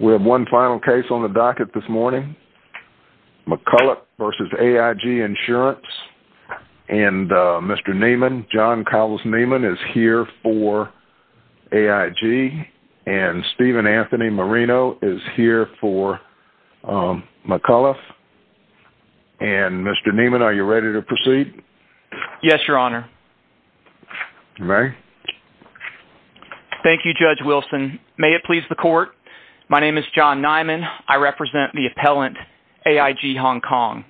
We have one final case on the docket this morning. McCullough v. AIG Insurance. And Mr. Neiman, John Cowles Neiman is here for AIG. And Stephen Anthony Marino is here for McCullough. And Mr. Neiman, are you ready to proceed? You may. Thank you, Judge Wilson. May it please the court, my name is John Neiman. I represent the appellant AIG Hong Kong.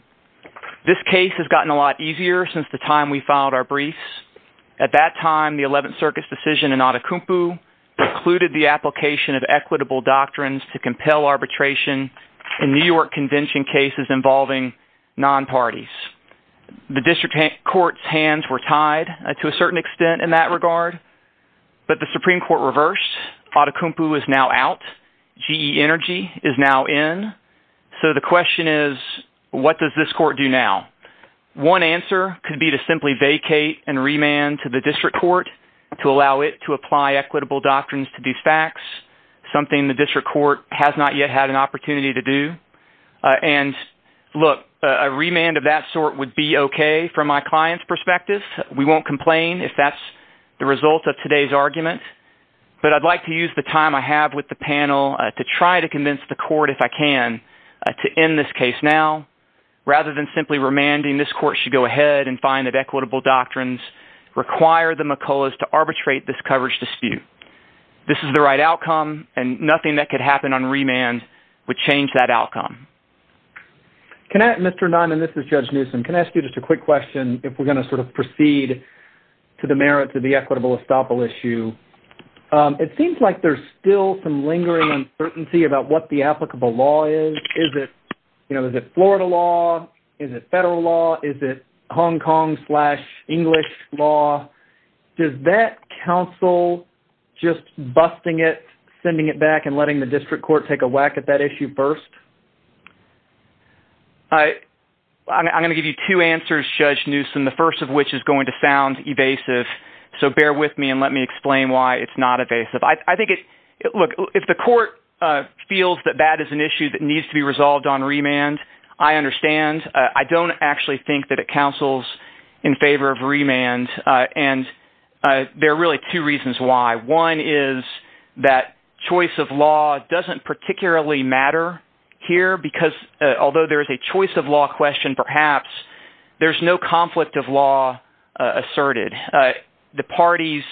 This case has gotten a lot easier since the time we filed our briefs. At that time, the 11th Circuit's decision in Atacumpu precluded the application of equitable doctrines to compel arbitration in New York Convention cases involving non-parties. The district court's hands were tied to a certain extent in that regard. But the Supreme Court reversed. Atacumpu is now out. GE Energy is now in. So the question is, what does this court do now? One answer could be to simply vacate and remand to the district court to allow it to apply equitable doctrines to defax, something the district court has not yet had an opportunity to do. And look, a remand of that sort would be okay from my client's perspective. We won't complain if that's the result of today's argument. But I'd like to use the time I have with the panel to try to convince the court, if I can, to end this case now. Rather than simply remanding, this court should go ahead and find that equitable doctrines require the McCulloughs to arbitrate this coverage dispute. This is the right outcome, and nothing that could happen on remand would change that outcome. Mr. Nunn, and this is Judge Newsom, can I ask you just a quick question if we're going to proceed to the merits of the equitable estoppel issue? It seems like there's still some lingering uncertainty about what the applicable law is. Is it Florida law? Is it federal law? Is it Hong Kong slash English law? Does that counsel just busting it, sending it back, and letting the district court take a whack at that issue first? I'm going to give you two answers, Judge Newsom, the first of which is going to sound evasive. So bear with me and let me explain why it's not evasive. I think it – look, if the court feels that that is an issue that needs to be resolved on remand, I understand. I don't actually think that it counsels in favor of remand, and there are really two reasons why. One is that choice of law doesn't particularly matter here because although there is a choice of law question perhaps, there's no conflict of law asserted. The parties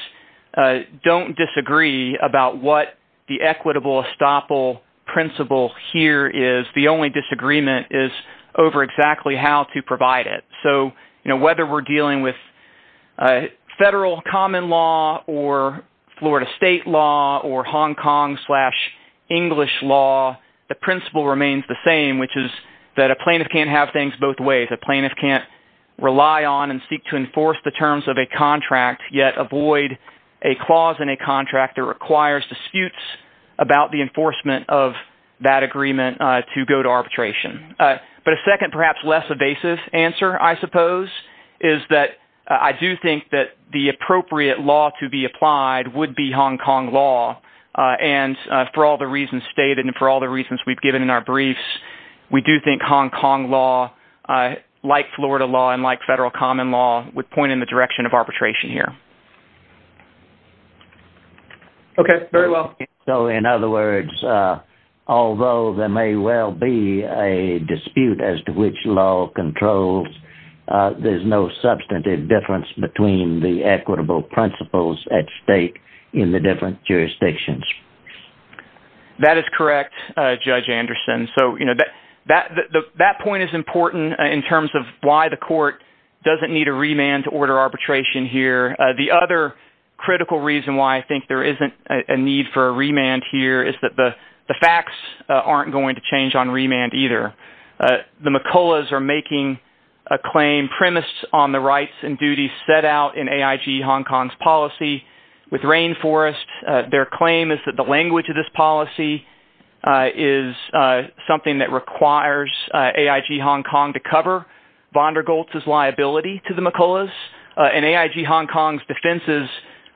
don't disagree about what the equitable estoppel principle here is. The only disagreement is over exactly how to provide it. So whether we're dealing with federal common law or Florida state law or Hong Kong slash English law, the principle remains the same, which is that a plaintiff can't have things both ways. A plaintiff can't rely on and seek to enforce the terms of a contract, yet avoid a clause in a contract that requires disputes about the enforcement of that agreement to go to arbitration. But a second perhaps less evasive answer, I suppose, is that I do think that the appropriate law to be applied would be Hong Kong law. And for all the reasons stated and for all the reasons we've given in our briefs, we do think Hong Kong law, like Florida law and like federal common law, would point in the direction of arbitration here. Okay, very well. So in other words, although there may well be a dispute as to which law controls, there's no substantive difference between the equitable principles at stake in the different jurisdictions. That is correct, Judge Anderson. So that point is important in terms of why the court doesn't need a remand to order arbitration here. The other critical reason why I think there isn't a need for a remand here is that the facts aren't going to change on remand either. The McCulloughs are making a claim premised on the rights and duties set out in AIG Hong Kong's policy with Rainforest. Their claim is that the language of this policy is something that requires AIG Hong Kong to cover Von der Goltz's liability to the McCulloughs. And AIG Hong Kong's defenses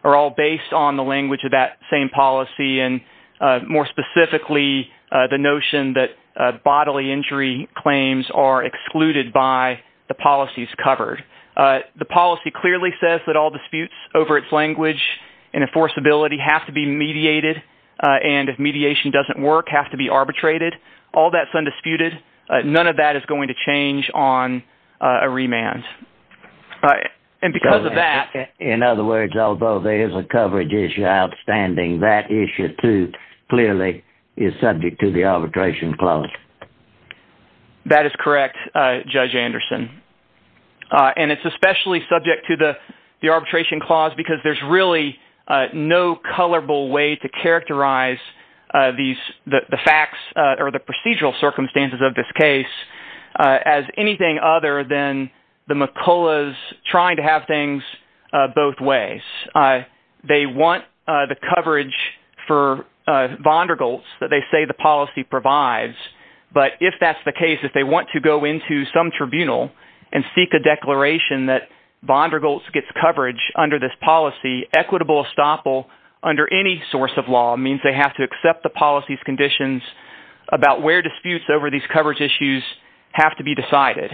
are all based on the language of that same policy and more specifically, the notion that bodily injury claims are excluded by the policies covered. The policy clearly says that all disputes over its language and enforceability have to be mediated and if mediation doesn't work, have to be arbitrated. All that's undisputed. None of that is going to change on a remand. In other words, although there is a coverage issue outstanding, that issue too clearly is subject to the arbitration clause. That is correct, Judge Anderson. And it's especially subject to the arbitration clause because there's really no colorable way to characterize the facts or the procedural circumstances of this case as anything other than the McCulloughs trying to have things both ways. They want the coverage for Von der Goltz that they say the policy provides. But if that's the case, if they want to go into some tribunal and seek a declaration that Von der Goltz gets coverage under this policy, equitable estoppel under any source of law means they have to accept the policy's conditions about where disputes over these coverage issues have to be decided.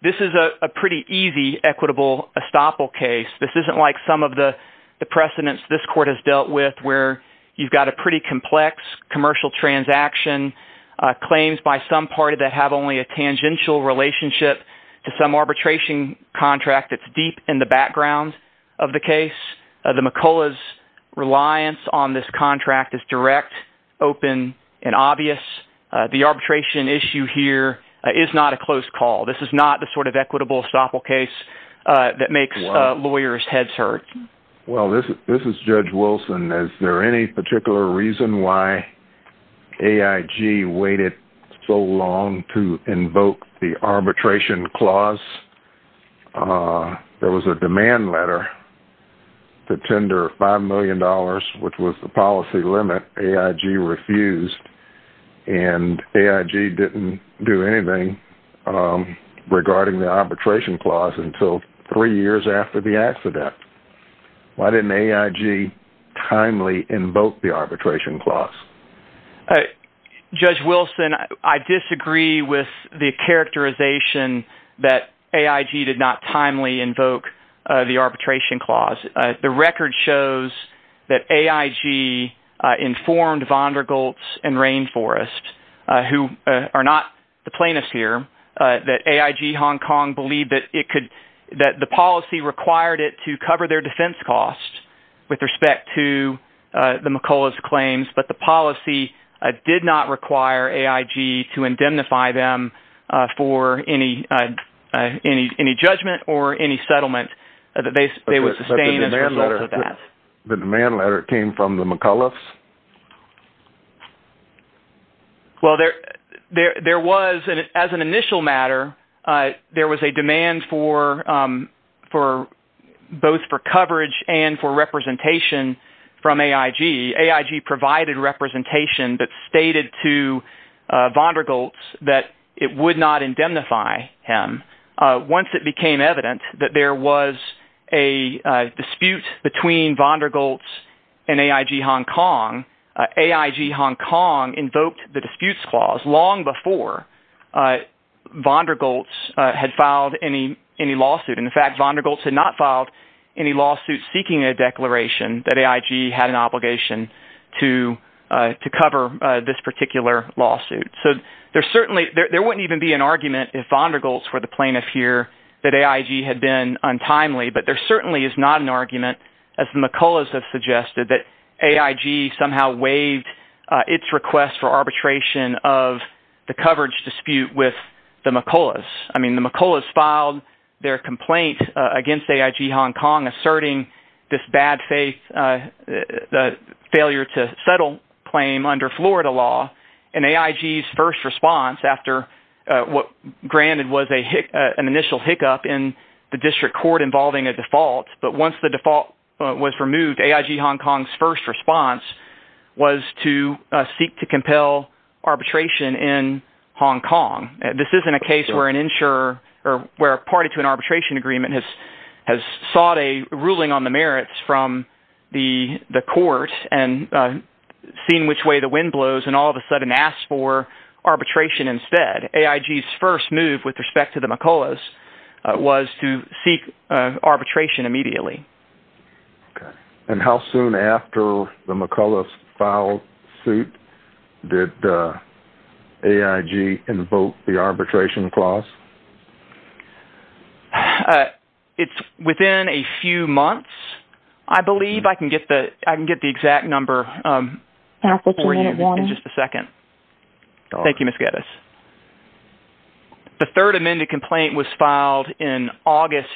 This is a pretty easy equitable estoppel case. This isn't like some of the precedents this court has dealt with where you've got a pretty complex commercial transaction, claims by some party that have only a tangential relationship to some arbitration contract that's deep in the background of the case. The McCulloughs' reliance on this contract is direct, open, and obvious. The arbitration issue here is not a close call. This is not the sort of equitable estoppel case that makes lawyers' heads hurt. Well, this is Judge Wilson. Is there any particular reason why AIG waited so long to invoke the arbitration clause? There was a demand letter to tender $5 million, which was the policy limit. AIG refused, and AIG didn't do anything regarding the arbitration clause until three years after the accident. Why didn't AIG timely invoke the arbitration clause? Judge Wilson, I disagree with the characterization that AIG did not timely invoke the arbitration clause. The record shows that AIG informed Von Der Gultz and Rainforest, who are not the plaintiffs here, that AIG Hong Kong believed that the policy required it to cover their defense costs with respect to the McCulloughs' claims, but the policy did not require AIG to indemnify them for any judgment or any settlement. But the demand letter came from the McCulloughs? Well, as an initial matter, there was a demand both for coverage and for representation from AIG. AIG provided representation that stated to Von Der Gultz that it would not indemnify him. Once it became evident that there was a dispute between Von Der Gultz and AIG Hong Kong, AIG Hong Kong invoked the disputes clause long before Von Der Gultz had filed any lawsuit. In fact, Von Der Gultz had not filed any lawsuit seeking a declaration that AIG had an obligation to cover this particular lawsuit. There wouldn't even be an argument if Von Der Gultz were the plaintiff here that AIG had been untimely, but there certainly is not an argument, as the McCulloughs have suggested, that AIG somehow waived its request for arbitration of the coverage dispute with the McCulloughs. I mean the McCulloughs filed their complaint against AIG Hong Kong asserting this bad faith failure to settle claim under Florida law. And AIG's first response after what granted was an initial hiccup in the district court involving a default, but once the default was removed, AIG Hong Kong's first response was to seek to compel arbitration in Hong Kong. This isn't a case where a party to an arbitration agreement has sought a ruling on the merits from the court and seen which way the wind blows and all of a sudden asks for arbitration instead. AIG's first move with respect to the McCulloughs was to seek arbitration immediately. And how soon after the McCulloughs filed suit did AIG invoke the arbitration clause? It's within a few months, I believe. I can get the exact number for you in just a second. Thank you, Ms. Geddes. The third amended complaint was filed in August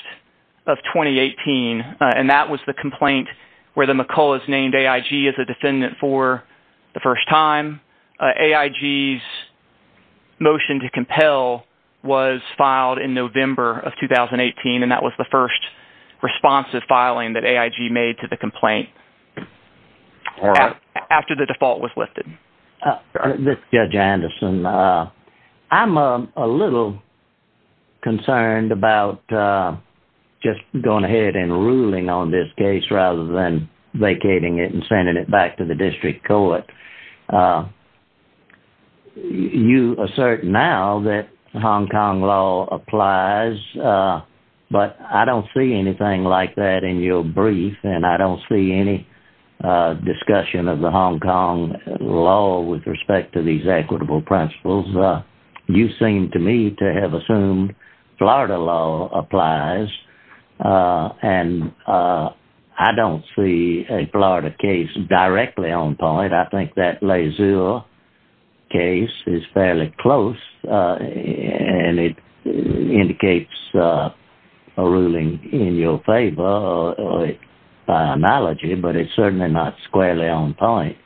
of 2018, and that was the complaint where the McCulloughs named AIG as a defendant for the first time. AIG's motion to compel was filed in November of 2018, and that was the first responsive filing that AIG made to the complaint after the default was lifted. This is Judge Anderson. I'm a little concerned about just going ahead and ruling on this case rather than vacating it and sending it back to the district court. You assert now that Hong Kong law applies, but I don't see anything like that in your brief, and I don't see any discussion of the Hong Kong law with respect to these equitable principles. You seem to me to have assumed Florida law applies, and I don't see a Florida case directly on point. I think that Lazeur case is fairly close, and it indicates a ruling in your favor by analogy, but it's certainly not squarely on point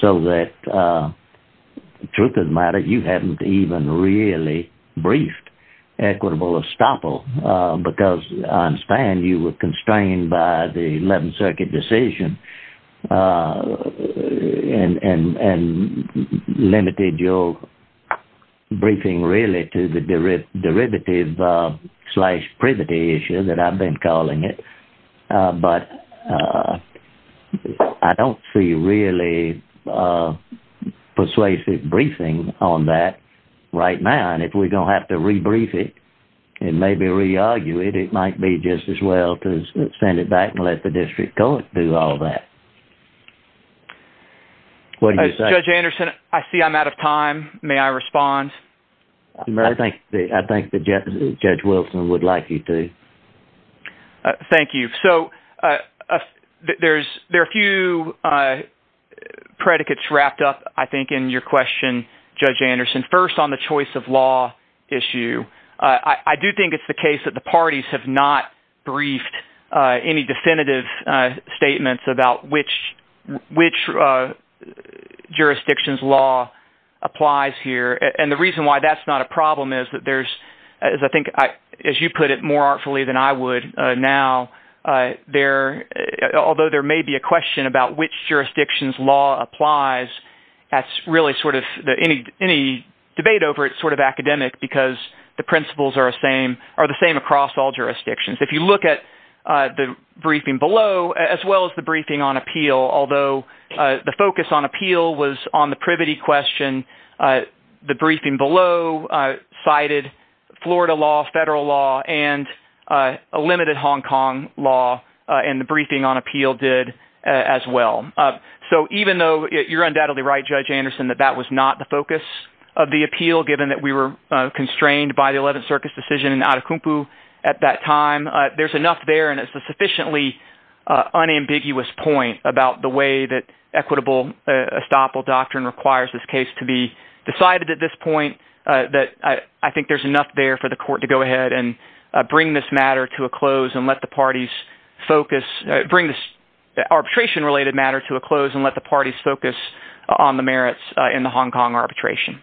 so that, truth of the matter, you haven't even really briefed equitable estoppel. Because I understand you were constrained by the 11th Circuit decision and limited your briefing really to the derivative slash privity issue that I've been calling it, but I don't see really persuasive briefing on that right now. If we're going to have to rebrief it and maybe re-argue it, it might be just as well to send it back and let the district court do all that. What do you say? Judge Anderson, I see I'm out of time. May I respond? I think that Judge Wilson would like you to. Thank you. So there are a few predicates wrapped up, I think, in your question, Judge Anderson. First, on the choice of law issue, I do think it's the case that the parties have not briefed any definitive statements about which jurisdiction's law applies here. And the reason why that's not a problem is that there's – as I think, as you put it more artfully than I would now, although there may be a question about which jurisdiction's law applies, that's really sort of – any debate over it is sort of academic because the principles are the same across all jurisdictions. If you look at the briefing below, as well as the briefing on appeal, although the focus on appeal was on the privity question, the briefing below cited Florida law, federal law, and a limited Hong Kong law, and the briefing on appeal did as well. So even though you're undoubtedly right, Judge Anderson, that that was not the focus of the appeal given that we were constrained by the 11th Circus decision in Atacumpo at that time, there's enough there, and it's a sufficiently unambiguous point about the way that equitable estoppel doctrine requires this case to be decided at this point that I think there's enough there for the court to go ahead and bring this matter to a close and let the parties focus – bring this arbitration-related matter to a close. And let the parties focus on the merits in the Hong Kong arbitration.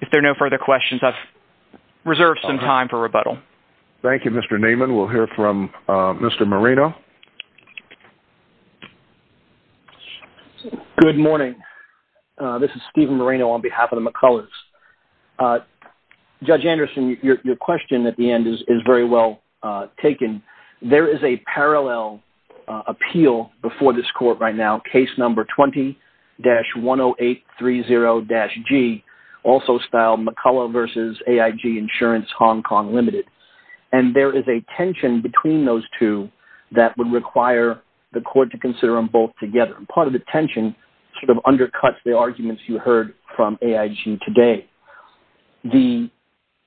If there are no further questions, I've reserved some time for rebuttal. Thank you, Mr. Naaman. We'll hear from Mr. Moreno. Good morning. This is Stephen Moreno on behalf of the McCullers. Judge Anderson, your question at the end is very well taken. There is a parallel appeal before this court right now, case number 20-10830-G, also styled McCullers v. AIG Insurance Hong Kong Limited. And there is a tension between those two that would require the court to consider them both together. Part of the tension sort of undercuts the arguments you heard from AIG today. The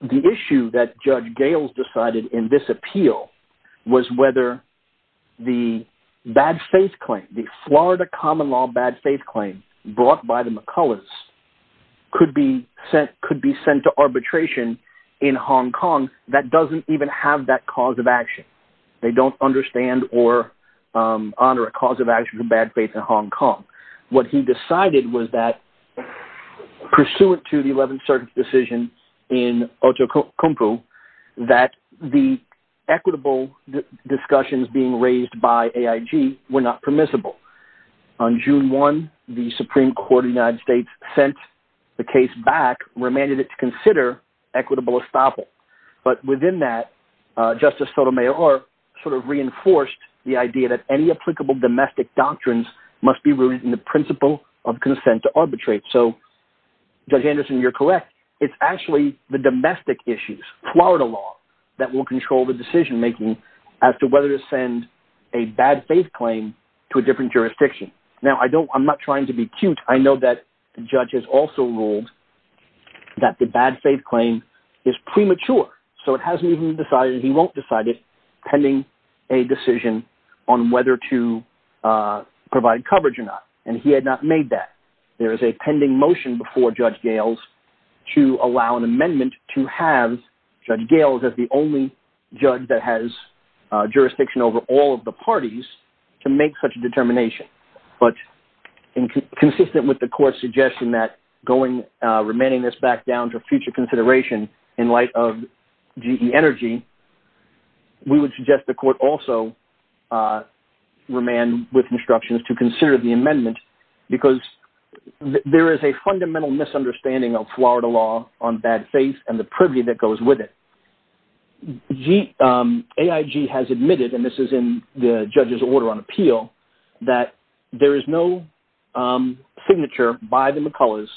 issue that Judge Gales decided in this appeal was whether the bad faith claim, the Florida common law bad faith claim brought by the McCullers could be sent to arbitration in Hong Kong that doesn't even have that cause of action. They don't understand or honor a cause of action for bad faith in Hong Kong. What he decided was that pursuant to the 11th Circuit's decision in Otokonpu that the equitable discussions being raised by AIG were not permissible. On June 1, the Supreme Court of the United States sent the case back, remanded it to consider equitable estoppel. But within that, Justice Sotomayor sort of reinforced the idea that any applicable domestic doctrines must be rooted in the principle of consent to arbitrate. So Judge Anderson, you're correct. It's actually the domestic issues, Florida law, that will control the decision making as to whether to send a bad faith claim to a different jurisdiction. Now, I'm not trying to be cute. I know that the judge has also ruled that the bad faith claim is premature. So it hasn't even been decided and he won't decide it pending a decision on whether to provide coverage or not. And he had not made that. There is a pending motion before Judge Gales to allow an amendment to have Judge Gales as the only judge that has jurisdiction over all of the parties to make such a determination. But consistent with the court's suggestion that remanding this back down to a future consideration in light of GE Energy, we would suggest the court also remand with instructions to consider the amendment. Because there is a fundamental misunderstanding of Florida law on bad faith and the privy that goes with it. AIG has admitted, and this is in the judge's order on appeal, that there is no signature by the McCullers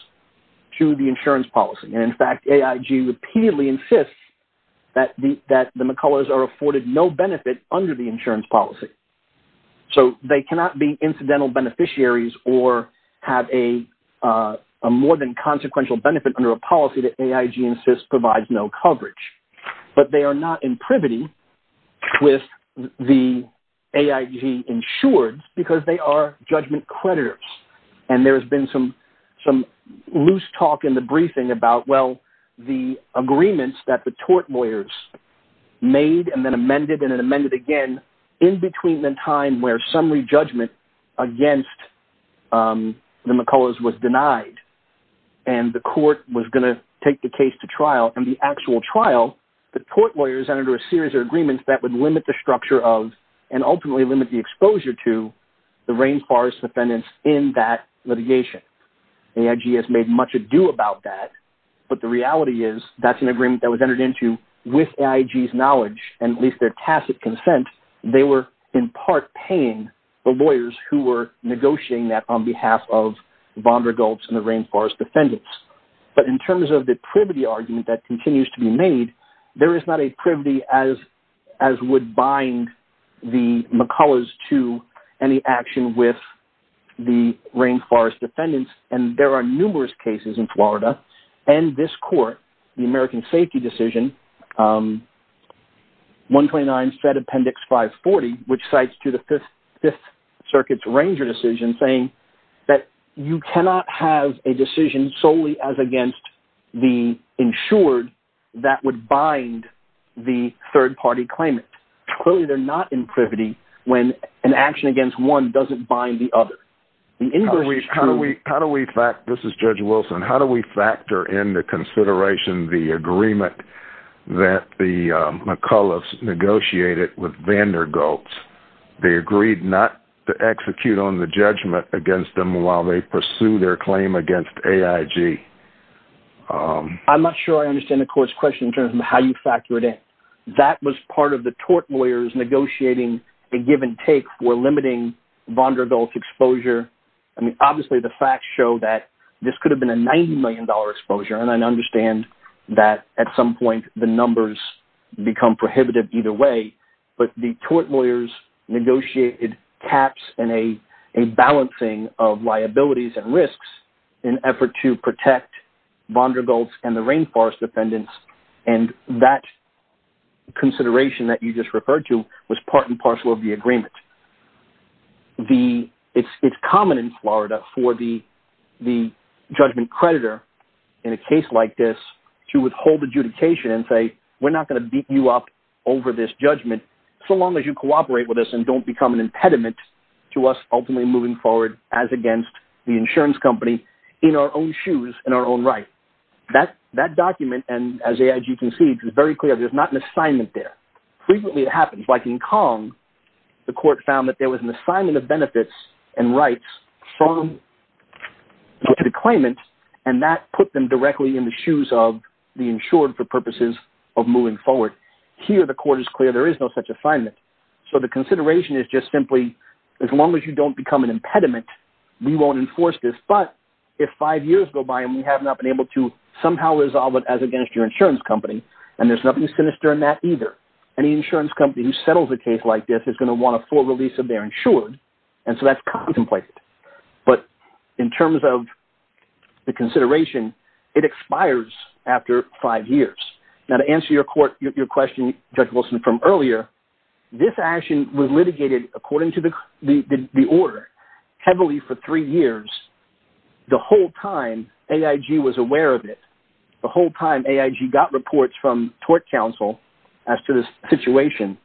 to the insurance policy. And in fact, AIG repeatedly insists that the McCullers are afforded no benefit under the insurance policy. So they cannot be incidental beneficiaries or have a more than consequential benefit under a policy that AIG insists provides no coverage. But they are not in privity with the AIG insured because they are judgment creditors. And there has been some loose talk in the briefing about, well, the agreements that the tort lawyers made and then amended and then amended again in between the time where summary judgment against the McCullers was denied. And the court was going to take the case to trial. And the actual trial, the tort lawyers entered a series of agreements that would limit the structure of and ultimately limit the exposure to the rainforest defendants in that litigation. AIG has made much ado about that. But the reality is that's an agreement that was entered into with AIG's knowledge and at least their tacit consent. They were in part paying the lawyers who were negotiating that on behalf of Vanderdulps and the rainforest defendants. But in terms of the privity argument that continues to be made, there is not a privity as would bind the McCullers to any action with the rainforest defendants. And there are numerous cases in Florida and this court, the American Safety Decision, 129 Fed Appendix 540, which cites to the Fifth Circuit's Ranger decision saying that you cannot have a decision solely as against the insured that would bind the third party claimant. Clearly, they're not in privity when an action against one doesn't bind the other. This is Judge Wilson. How do we factor into consideration the agreement that the McCullers negotiated with Vanderdulps? They agreed not to execute on the judgment against them while they pursue their claim against AIG. I'm not sure I understand the court's question in terms of how you factor it in. That was part of the tort lawyers negotiating a give and take for limiting Vanderdulps' exposure. I mean, obviously, the facts show that this could have been a $90 million exposure. And I understand that at some point the numbers become prohibited either way. But the tort lawyers negotiated caps and a balancing of liabilities and risks in effort to protect Vanderdulps and the rainforest defendants. And that consideration that you just referred to was part and parcel of the agreement. It's common in Florida for the judgment creditor in a case like this to withhold adjudication and say, we're not going to beat you up over this judgment so long as you cooperate with us and don't become an impediment to us ultimately moving forward as against the insurance company in our own shoes, in our own right. That document, as AIG concedes, is very clear. There's not an assignment there. Frequently it happens. Like in Kong, the court found that there was an assignment of benefits and rights to the claimant. And that put them directly in the shoes of the insured for purposes of moving forward. Here the court is clear. There is no such assignment. So the consideration is just simply as long as you don't become an impediment, we won't enforce this. But if five years go by and we have not been able to somehow resolve it as against your insurance company, and there's nothing sinister in that either, any insurance company who settles a case like this is going to want a full release of their insured. And so that's contemplated. But in terms of the consideration, it expires after five years. Now to answer your question, Judge Wilson, from earlier, this action was litigated according to the order heavily for three years. The whole time AIG was aware of it. The whole time AIG got reports from tort counsel as to the situation,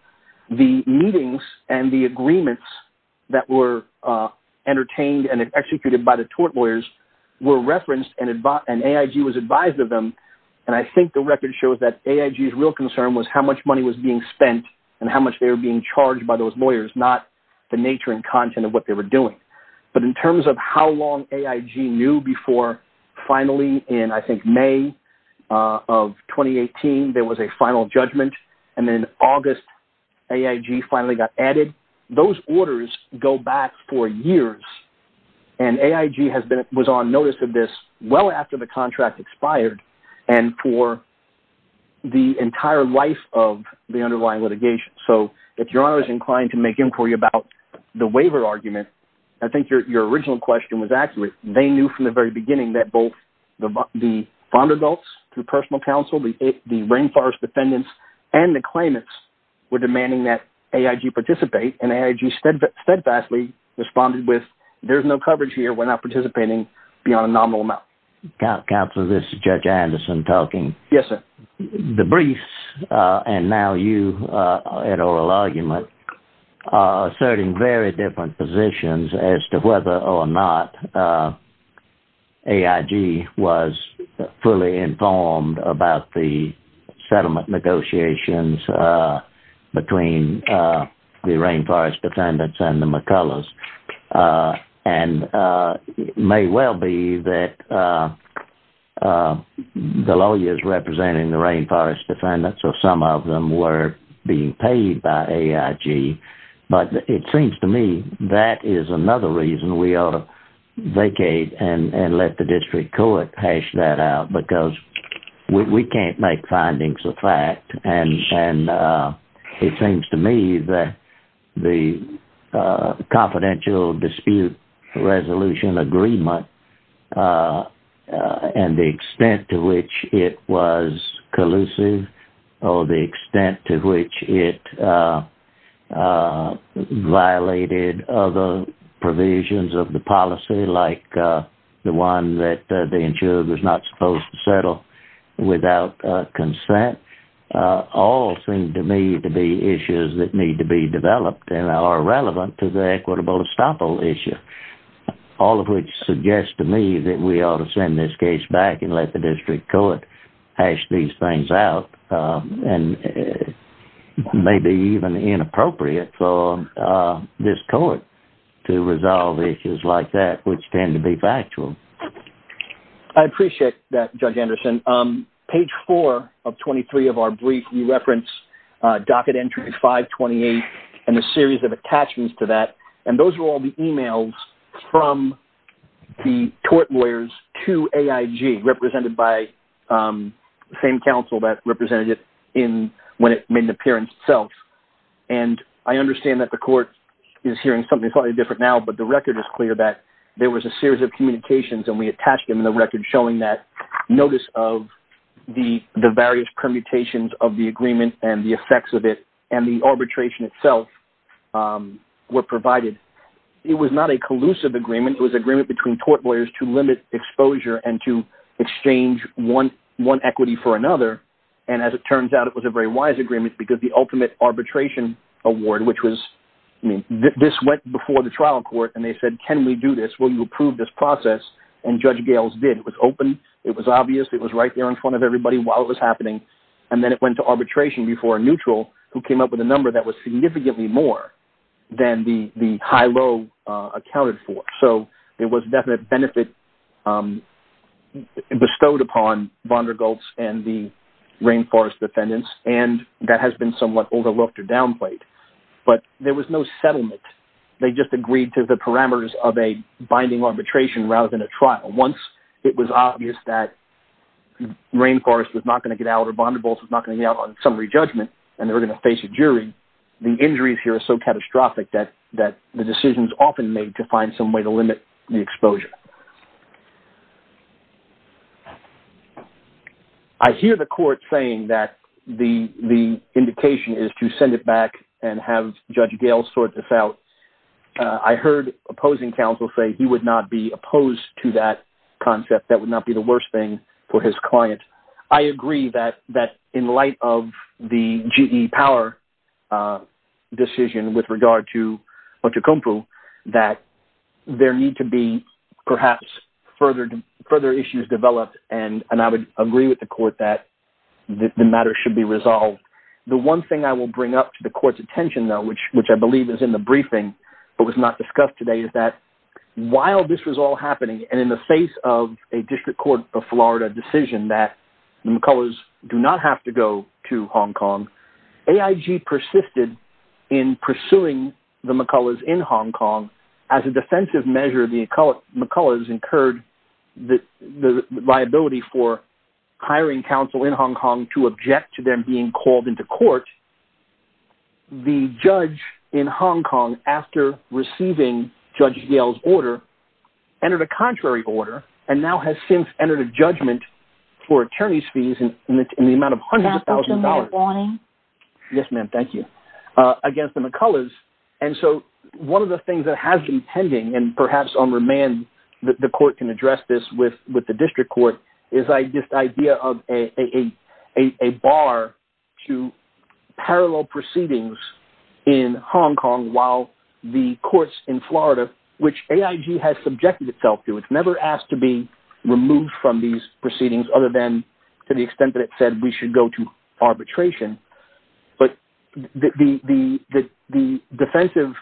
the meetings and the agreements that were entertained and executed by the tort lawyers were referenced and AIG was advised of them. And I think the record shows that AIG's real concern was how much money was being spent and how much they were being charged by those lawyers, not the nature and content of what they were doing. But in terms of how long AIG knew before finally in, I think, May of 2018, there was a final judgment. And then August, AIG finally got added. Those orders go back for years. And AIG was on notice of this well after the contract expired and for the entire life of the underlying litigation. So if Your Honor is inclined to make inquiry about the waiver argument, I think your original question was accurate. They knew from the very beginning that both the fond adults, the personal counsel, the rainforest defendants, and the claimants were demanding that AIG participate. And AIG steadfastly responded with, there's no coverage here. We're not participating beyond a nominal amount. Counsel, this is Judge Anderson talking. Yes, sir. The briefs and now you at oral argument are asserting very different positions as to whether or not AIG was fully informed about the settlement negotiations between the rainforest defendants and the McCullers. And it may well be that the lawyers representing the rainforest defendants or some of them were being paid by AIG. But it seems to me that is another reason we ought to vacate and let the district court hash that out because we can't make findings of fact. And it seems to me that the confidential dispute resolution agreement and the extent to which it was collusive or the extent to which it violated other provisions of the policy like the one that the insurer was not supposed to settle without consent. All seem to me to be issues that need to be developed and are relevant to the equitable estoppel issue. All of which suggests to me that we ought to send this case back and let the district court hash these things out. And it may be even inappropriate for this court to resolve issues like that which tend to be factual. I appreciate that, Judge Anderson. Page 4 of 23 of our brief, we reference docket entry 528 and a series of attachments to that. And those are all the emails from the tort lawyers to AIG represented by the same counsel that represented it when it made an appearance itself. And I understand that the court is hearing something slightly different now but the record is clear that there was a series of communications and we attached them in the record showing that notice of the various permutations of the agreement and the effects of it and the arbitration itself were provided. It was not a collusive agreement. It was an agreement between tort lawyers to limit exposure and to exchange one equity for another. And as it turns out, it was a very wise agreement because the ultimate arbitration award which was – this went before the trial court and they said, can we do this? Will you approve this process? And Judge Gales did. It was open. It was obvious. It was right there in front of everybody while it was happening. And then it went to arbitration before a neutral who came up with a number that was significantly more than the high-low accounted for. So it was definitely a benefit bestowed upon von der Goltz and the rainforest defendants, and that has been somewhat overlooked or downplayed. But there was no settlement. They just agreed to the parameters of a binding arbitration rather than a trial. Once it was obvious that rainforest was not going to get out or von der Goltz was not going to get out on summary judgment and they were going to face a jury, the injuries here are so catastrophic that the decisions often made to find some way to limit the exposure. I hear the court saying that the indication is to send it back and have Judge Gales sort this out. I heard opposing counsel say he would not be opposed to that concept. That would not be the worst thing for his client. I agree that in light of the GE Power decision with regard to Machu Cumpu that there need to be perhaps further issues developed, and I would agree with the court that the matter should be resolved. The one thing I will bring up to the court's attention though, which I believe is in the briefing but was not discussed today, is that while this was all happening and in the face of a District Court of Florida decision that McCullers do not have to go to Hong Kong, AIG persisted in pursuing the McCullers in Hong Kong. As a defensive measure, the McCullers incurred the liability for hiring counsel in Hong Kong to object to them being called into court. The judge in Hong Kong, after receiving Judge Gales' order, entered a contrary order and now has since entered a judgment for attorney's fees in the amount of hundreds of thousands of dollars against the McCullers. One of the things that has been pending, and perhaps on remand the court can address this with the District Court, is this idea of a bar to parallel proceedings in Hong Kong while the courts in Florida, which AIG has subjected itself to, it's never asked to be removed from these proceedings other than to the extent that it said we should go to arbitration. But the offensive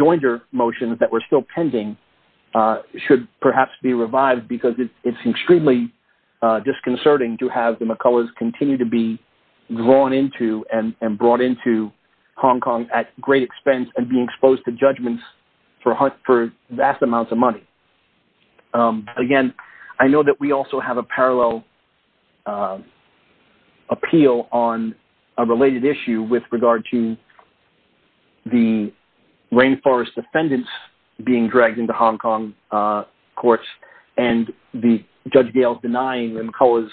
jointer motions that were still pending should perhaps be revived because it's extremely disconcerting to have the McCullers continue to be drawn into and brought into Hong Kong at great expense and being exposed to judgments for vast amounts of money. Again, I know that we also have a parallel appeal on a related issue with regard to the rainforest defendants being dragged into Hong Kong courts and Judge Gales denying the McCullers'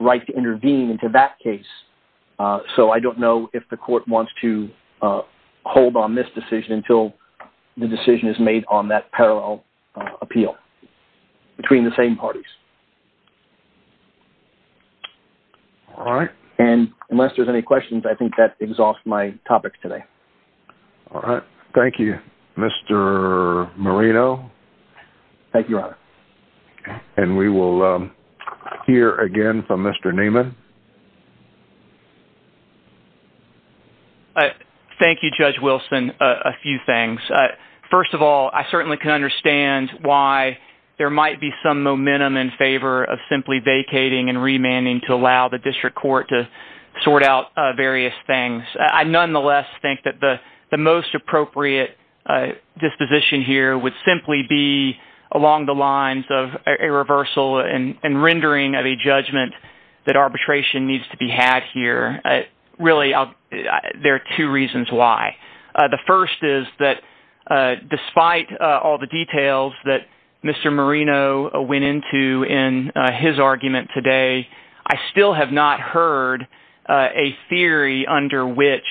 right to intervene into that case. So I don't know if the court wants to hold on this decision until the decision is made on that parallel appeal between the same parties. And unless there's any questions, I think that exhausts my topic today. Thank you, Mr. Moreno. Thank you, Your Honor. And we will hear again from Mr. Neiman. Thank you, Judge Wilson, a few things. First of all, I certainly can understand why there might be some momentum in favor of simply vacating and remanding to allow the district court to sort out various things. I nonetheless think that the most appropriate disposition here would simply be along the lines of a reversal and rendering of a judgment that arbitration needs to be had here. Really, there are two reasons why. The first is that despite all the details that Mr. Moreno went into in his argument today, I still have not heard a theory under which,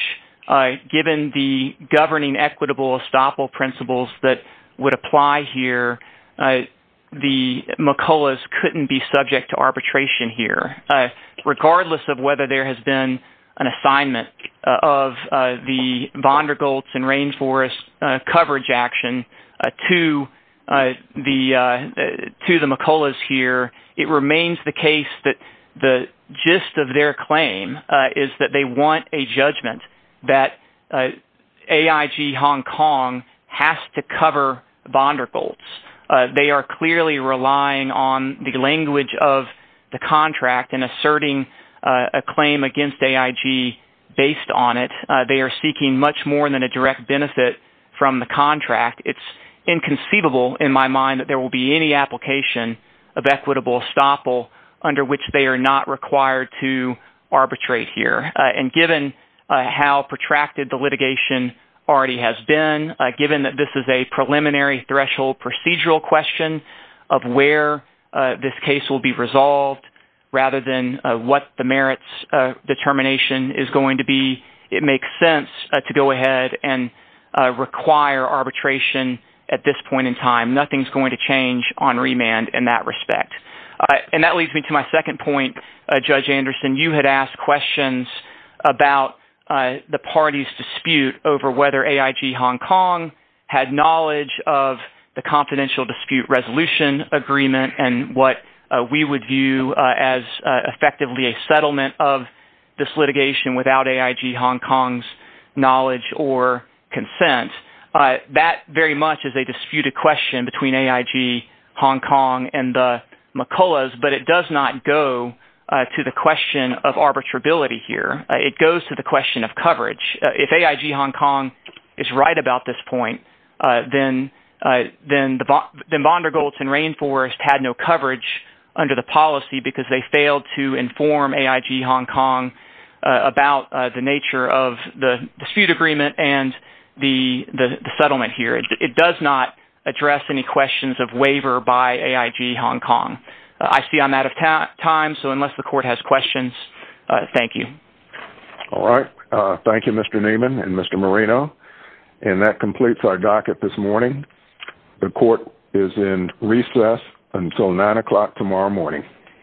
given the governing equitable estoppel principles that would apply here, the McCullers couldn't be subject to arbitration here. Regardless of whether there has been an assignment of the Vondergoltz and Rainforest coverage action to the McCullers here, it remains the case that the gist of their claim is that they want a judgment that AIG Hong Kong has to cover Vondergoltz. They are clearly relying on the language of the contract and asserting a claim against AIG based on it. They are seeking much more than a direct benefit from the contract. It's inconceivable in my mind that there will be any application of equitable estoppel under which they are not required to arbitrate here. Given how protracted the litigation already has been, given that this is a preliminary threshold procedural question of where this case will be resolved rather than what the merits determination is going to be, it makes sense to go ahead and require arbitration at this point in time. Nothing is going to change on remand in that respect. And that leads me to my second point, Judge Anderson. You had asked questions about the party's dispute over whether AIG Hong Kong had knowledge of the confidential dispute resolution agreement and what we would view as effectively a settlement of this litigation without AIG Hong Kong's knowledge or consent. That very much is a disputed question between AIG Hong Kong and the McCulloughs, but it does not go to the question of arbitrability here. It goes to the question of coverage. If AIG Hong Kong is right about this point, then Vondergoltz and Rainforest had no coverage under the policy because they failed to inform AIG Hong Kong about the nature of the dispute agreement and the settlement here. It does not address any questions of waiver by AIG Hong Kong. I see I'm out of time, so unless the Court has questions, thank you. All right. Thank you, Mr. Neiman and Mr. Marino. And that completes our docket this morning. The Court is in recess until 9 o'clock tomorrow morning.